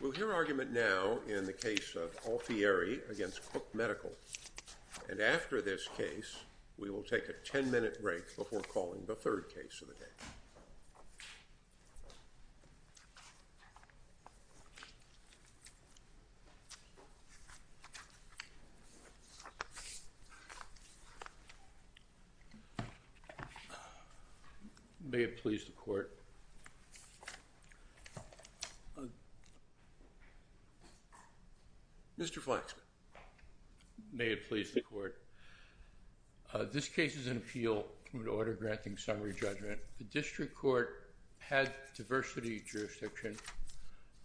We'll hear argument now in the case of Alfieri against Cook Medical. And after this case, we will take a ten-minute break before calling the third case of the day. Mr. Flaxman May it please the court. This case is an appeal to an order granting summary judgment. The district court had diversity jurisdiction.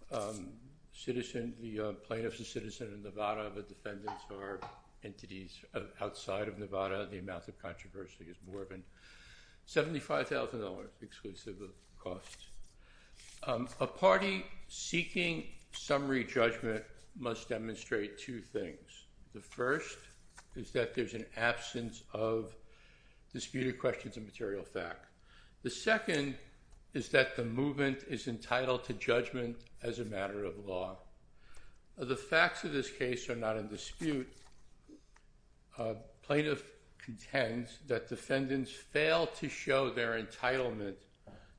The plaintiffs are citizens of Nevada. The defendants are entities outside of Nevada. The amount of controversy is more than $75,000, exclusive of cost. A party seeking summary judgment must demonstrate two things. The first is that there's an absence of disputed questions of material fact. The second is that the movement is entitled to judgment as a matter of law. The facts of this case are not in dispute. A plaintiff contends that defendants fail to show their entitlement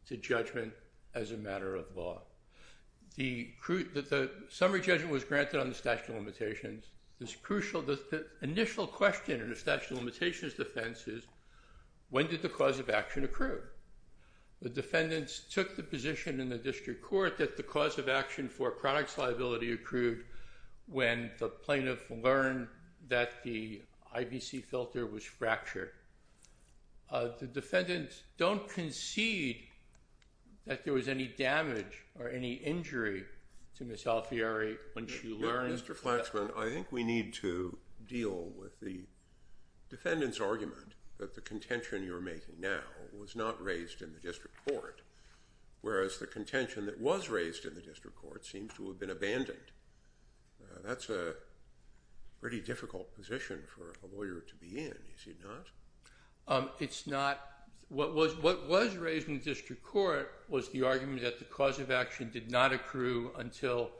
to judgment as a matter of law. The summary judgment was granted on the statute of limitations. The initial question in the statute of limitations defense is, when did the cause of action accrue? The defendants took the position in the district court that the cause of action for a product's liability accrued when the plaintiff learned that the IBC filter was fractured. The defendants don't concede that there was any damage or any injury to Ms. Alfieri once she learned that. Mr. Flaxman, I think we need to deal with the defendant's argument that the contention you're making now was not raised in the district court, whereas the contention that was raised in the district court seems to have been abandoned. That's a pretty difficult position for a lawyer to be in, is it not? It's not. What was raised in the district court was the argument that the cause of action did not accrue until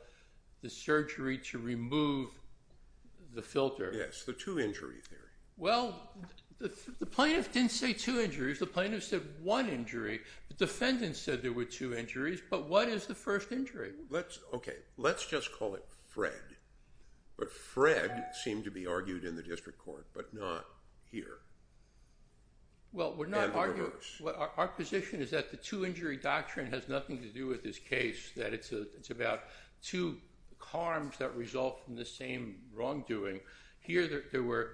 the surgery to remove the filter. Yes, the two-injury theory. Well, the plaintiff didn't say two injuries. The plaintiff said one injury. The defendant said there were two injuries, but what is the first injury? Okay, let's just call it Fred. But Fred seemed to be argued in the district court, but not here. Well, our position is that the two-injury doctrine has nothing to do with this case, that it's about two harms that result from the same wrongdoing. Here there were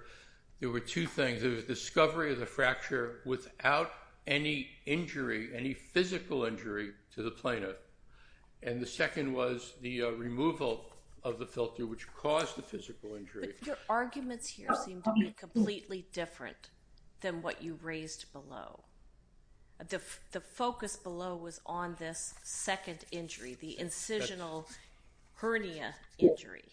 two things. There was discovery of the fracture without any injury, any physical injury to the plaintiff, and the second was the removal of the filter, which caused the physical injury. But your arguments here seem to be completely different than what you raised below. The focus below was on this second injury, the incisional hernia injury.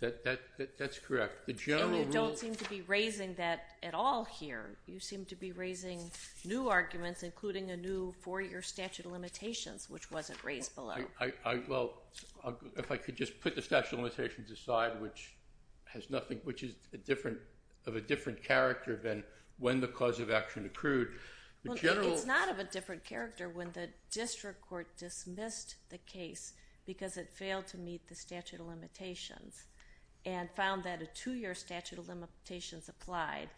That's correct. And you don't seem to be raising that at all here. You seem to be raising new arguments, including a new four-year statute of limitations, which wasn't raised below. Well, if I could just put the statute of limitations aside, which is of a different character than when the cause of action accrued. It's not of a different character when the district court dismissed the case because it failed to meet the statute of limitations and found that a two-year statute of limitations applied,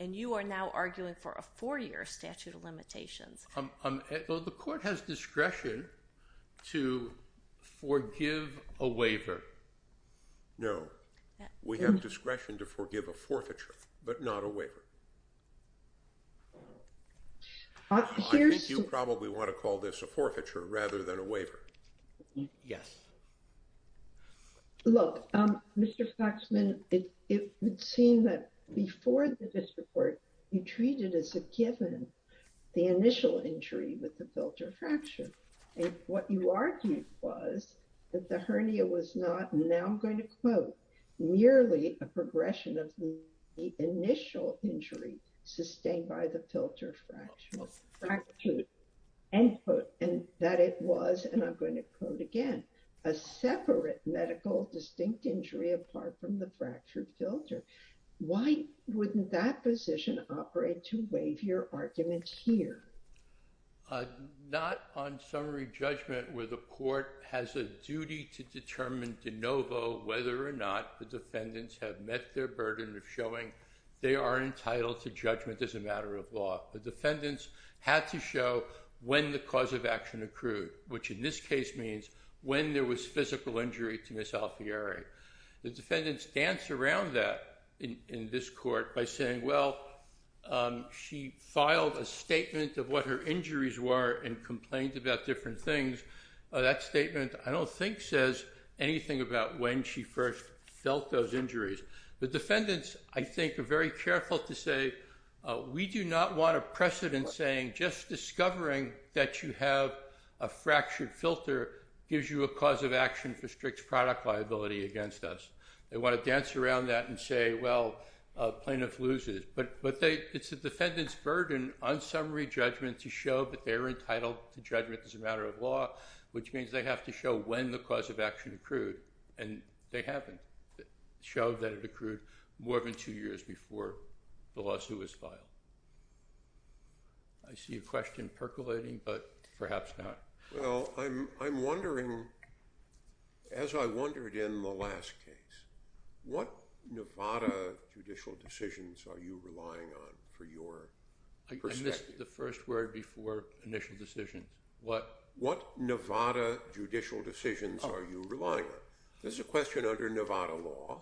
and you are now arguing for a four-year statute of limitations. Well, the court has discretion to forgive a waiver. No. We have discretion to forgive a forfeiture, but not a waiver. I think you probably want to call this a forfeiture rather than a waiver. Yes. Look, Mr. Faxman, it would seem that before the district court, you treated as a given the initial injury with the filter fracture. What you argued was that the hernia was not, and now I'm going to quote, merely a progression of the initial injury sustained by the filter fracture. End quote. And that it was, and I'm going to quote again, a separate medical distinct injury apart from the fractured filter. Why wouldn't that position operate to waive your arguments here? Not on summary judgment where the court has a duty to determine de novo whether or not the defendants have met their burden of showing they are entitled to judgment as a matter of law. The defendants had to show when the cause of action accrued, which in this case means when there was physical injury to Ms. Alfieri. The defendants dance around that in this court by saying, well, she filed a statement of what her injuries were and complained about different things. That statement, I don't think, says anything about when she first felt those injuries. The defendants, I think, are very careful to say we do not want a precedent saying just discovering that you have a fractured filter gives you a cause of action for strict product liability against us. They want to dance around that and say, well, plaintiff loses. But it's the defendant's burden on summary judgment to show that they're entitled to judgment as a matter of law, which means they have to show when the cause of action accrued. And they haven't showed that it accrued more than two years before the lawsuit was filed. I see a question percolating, but perhaps not. Well, I'm wondering, as I wondered in the last case, what Nevada judicial decisions are you relying on for your perspective? I missed the first word before initial decisions. What Nevada judicial decisions are you relying on? This is a question under Nevada law.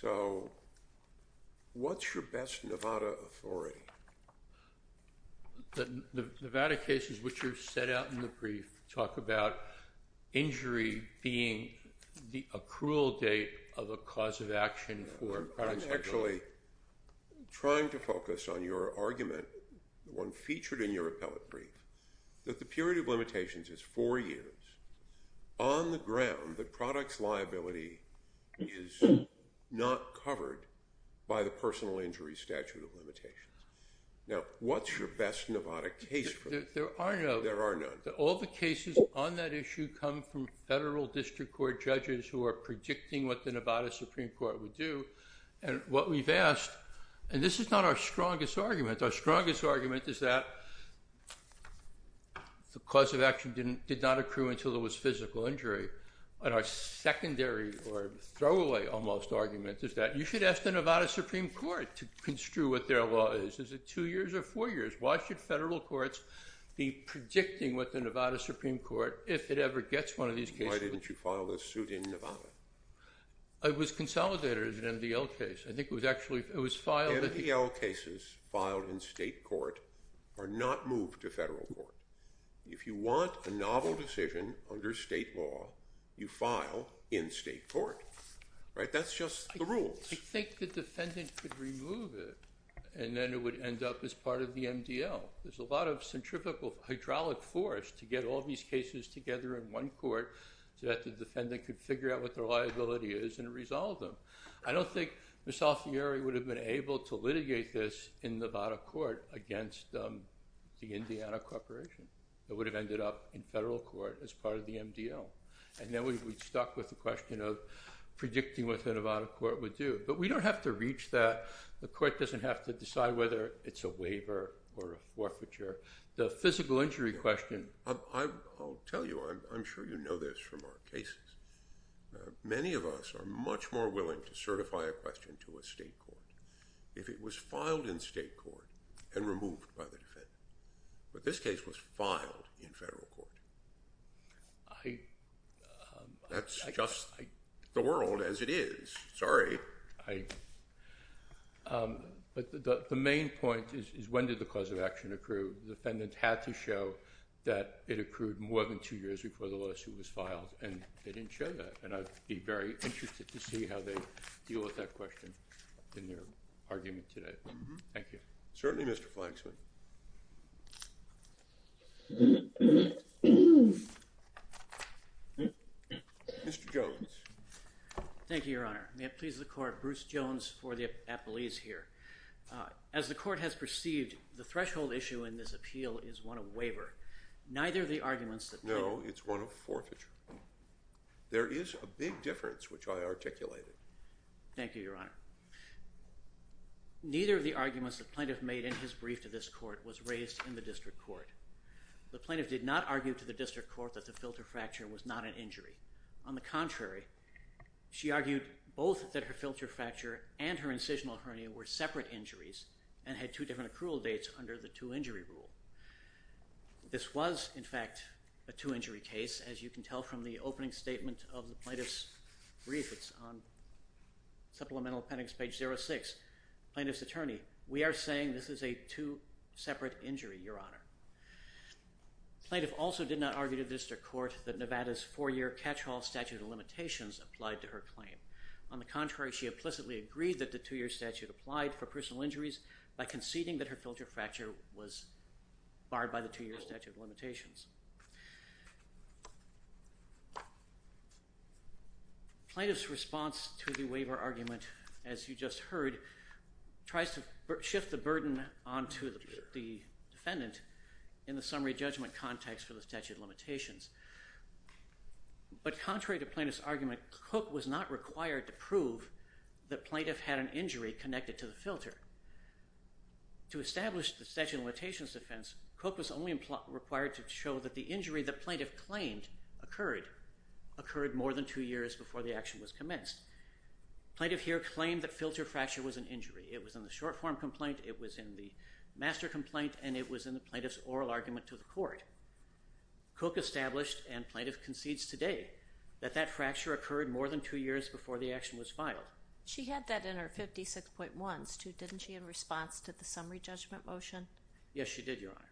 So what's your best Nevada authority? The Nevada cases which are set out in the brief talk about injury being the accrual date of a cause of action for product liability. I'm actually trying to focus on your argument, the one featured in your appellate brief, that the period of limitations is four years. On the ground, the product's liability is not covered by the personal injury statute of limitations. Now, what's your best Nevada case? There are none. There are none. All the cases on that issue come from federal district court judges who are predicting what the Nevada Supreme Court would do. And what we've asked, and this is not our strongest argument. Our strongest argument is that the cause of action did not accrue until there was physical injury. And our secondary or throwaway almost argument is that you should ask the Nevada Supreme Court to construe what their law is. Is it two years or four years? Why should federal courts be predicting what the Nevada Supreme Court, if it ever gets one of these cases? Why didn't you file this suit in Nevada? It was consolidated as an MDL case. MDL cases filed in state court are not moved to federal court. If you want a novel decision under state law, you file in state court. That's just the rules. I think the defendant could remove it, and then it would end up as part of the MDL. There's a lot of centrifugal hydraulic force to get all these cases together in one court so that the defendant could figure out what their liability is and resolve them. I don't think Ms. Alfieri would have been able to litigate this in Nevada court against the Indiana Corporation. It would have ended up in federal court as part of the MDL. And then we'd be stuck with the question of predicting what the Nevada court would do. But we don't have to reach that. The court doesn't have to decide whether it's a waiver or a forfeiture. The physical injury question— I'll tell you. I'm sure you know this from our cases. Many of us are much more willing to certify a question to a state court if it was filed in state court and removed by the defendant. But this case was filed in federal court. That's just the world as it is. Sorry. But the main point is when did the cause of action accrue? The defendant had to show that it accrued more than two years before the lawsuit was filed, and they didn't show that. And I'd be very interested to see how they deal with that question in their argument today. Thank you. Certainly, Mr. Flaxman. Mr. Jones. Thank you, Your Honor. May it please the court. Bruce Jones for the appellees here. As the court has perceived, the threshold issue in this appeal is one of waiver. Neither of the arguments that plaintiff— No, it's one of forfeiture. There is a big difference, which I articulated. Thank you, Your Honor. Neither of the arguments that plaintiff made in his brief to this court was raised in the district court. The plaintiff did not argue to the district court that the filter fracture was not an injury. On the contrary, she argued both that her filter fracture and her incisional hernia were separate injuries and had two different accrual dates under the two-injury rule. This was, in fact, a two-injury case, as you can tell from the opening statement of the plaintiff's brief. It's on supplemental appendix page 06. Plaintiff's attorney, we are saying this is a two-separate injury, Your Honor. Plaintiff also did not argue to the district court that Nevada's four-year catch-all statute of limitations applied to her claim. On the contrary, she implicitly agreed that the two-year statute applied for personal injuries by conceding that her filter fracture was barred by the two-year statute of limitations. Plaintiff's response to the waiver argument, as you just heard, tries to shift the burden onto the defendant in the summary judgment context for the statute of limitations. But contrary to plaintiff's argument, Cook was not required to prove that plaintiff had an injury connected to the filter. To establish the statute of limitations defense, Cook was only required to show that the injury that plaintiff claimed occurred more than two years before the action was commenced. Plaintiff here claimed that filter fracture was an injury. It was in the short-form complaint, it was in the master complaint, and it was in the plaintiff's oral argument to the court. Cook established, and plaintiff concedes today, that that fracture occurred more than two years before the action was filed. She had that in her 56.1s, too, didn't she, in response to the summary judgment motion? Yes, she did, Your Honor.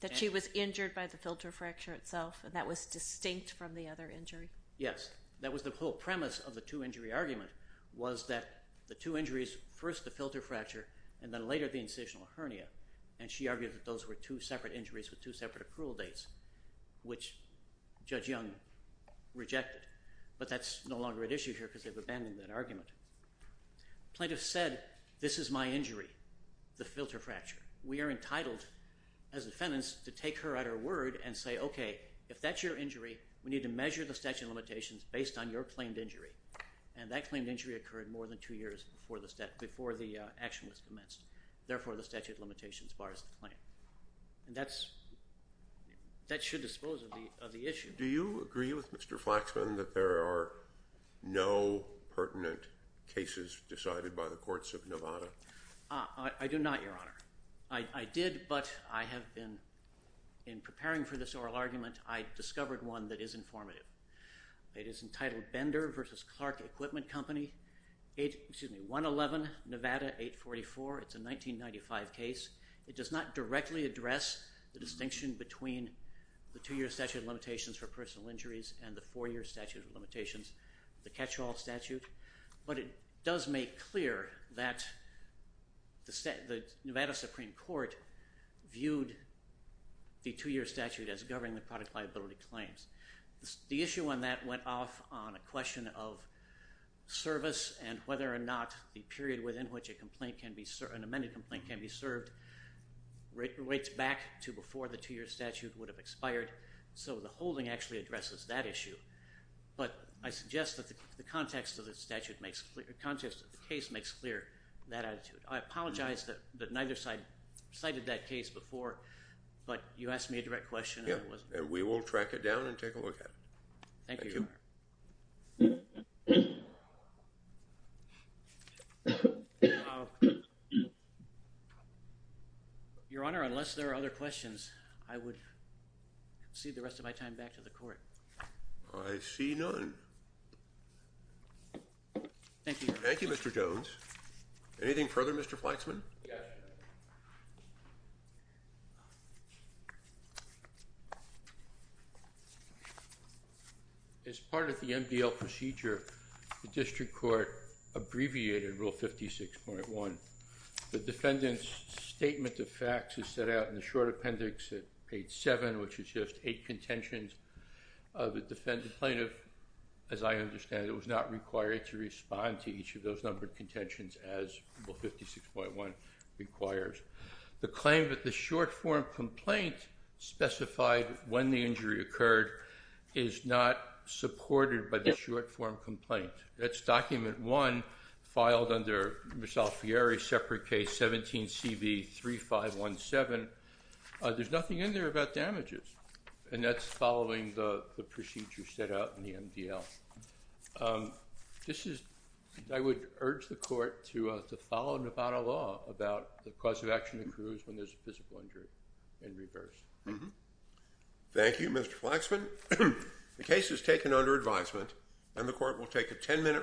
That she was injured by the filter fracture itself, and that was distinct from the other injury? Yes. That was the whole premise of the two-injury argument, was that the two injuries, first the filter fracture, and then later the incisional hernia. And she argued that those were two separate injuries with two separate approval dates, which Judge Young rejected. But that's no longer an issue here because they've abandoned that argument. Plaintiff said, this is my injury, the filter fracture. We are entitled, as defendants, to take her at her word and say, okay, if that's your injury, we need to measure the statute of limitations based on your claimed injury. And that claimed injury occurred more than two years before the action was commenced. Therefore, the statute of limitations bars the claim. And that should dispose of the issue. Do you agree with Mr. Flaxman that there are no pertinent cases decided by the courts of Nevada? I do not, Your Honor. I did, but I have been, in preparing for this oral argument, I discovered one that is informative. It is entitled Bender v. Clark Equipment Company, 111 Nevada 844. It's a 1995 case. It does not directly address the distinction between the two-year statute of limitations for personal injuries and the four-year statute of limitations, the catch-all statute. But it does make clear that the Nevada Supreme Court viewed the two-year statute as governing the product liability claims. The issue on that went off on a question of service and whether or not the period within which an amended complaint can be served rates back to before the two-year statute would have expired. So the holding actually addresses that issue. But I suggest that the context of the case makes clear that attitude. I apologize that neither side cited that case before, but you asked me a direct question. We will track it down and take a look at it. Thank you, Your Honor. Your Honor, unless there are other questions, I would cede the rest of my time back to the court. I see none. Thank you, Your Honor. Thank you, Mr. Jones. Anything further, Mr. Flexman? Yes. As part of the MDL procedure, the district court abbreviated Rule 56.1. The defendant's statement of facts is set out in the short appendix at page 7, which is just eight contentions. The defendant's plaintiff, as I understand it, was not required to respond to each of those numbered contentions as Rule 56.1 requires. The claim that the short-form complaint specified when the injury occurred is not supported by the short-form complaint. That's document one, filed under Misalfiore, separate case 17CB3517. There's nothing in there about damages, and that's following the procedure set out in the MDL. I would urge the court to follow Nevada law about the cause of action that occurs when there's a physical injury in reverse. Thank you, Mr. Flexman. The case is taken under advisement, and the court will take a 10-minute recess.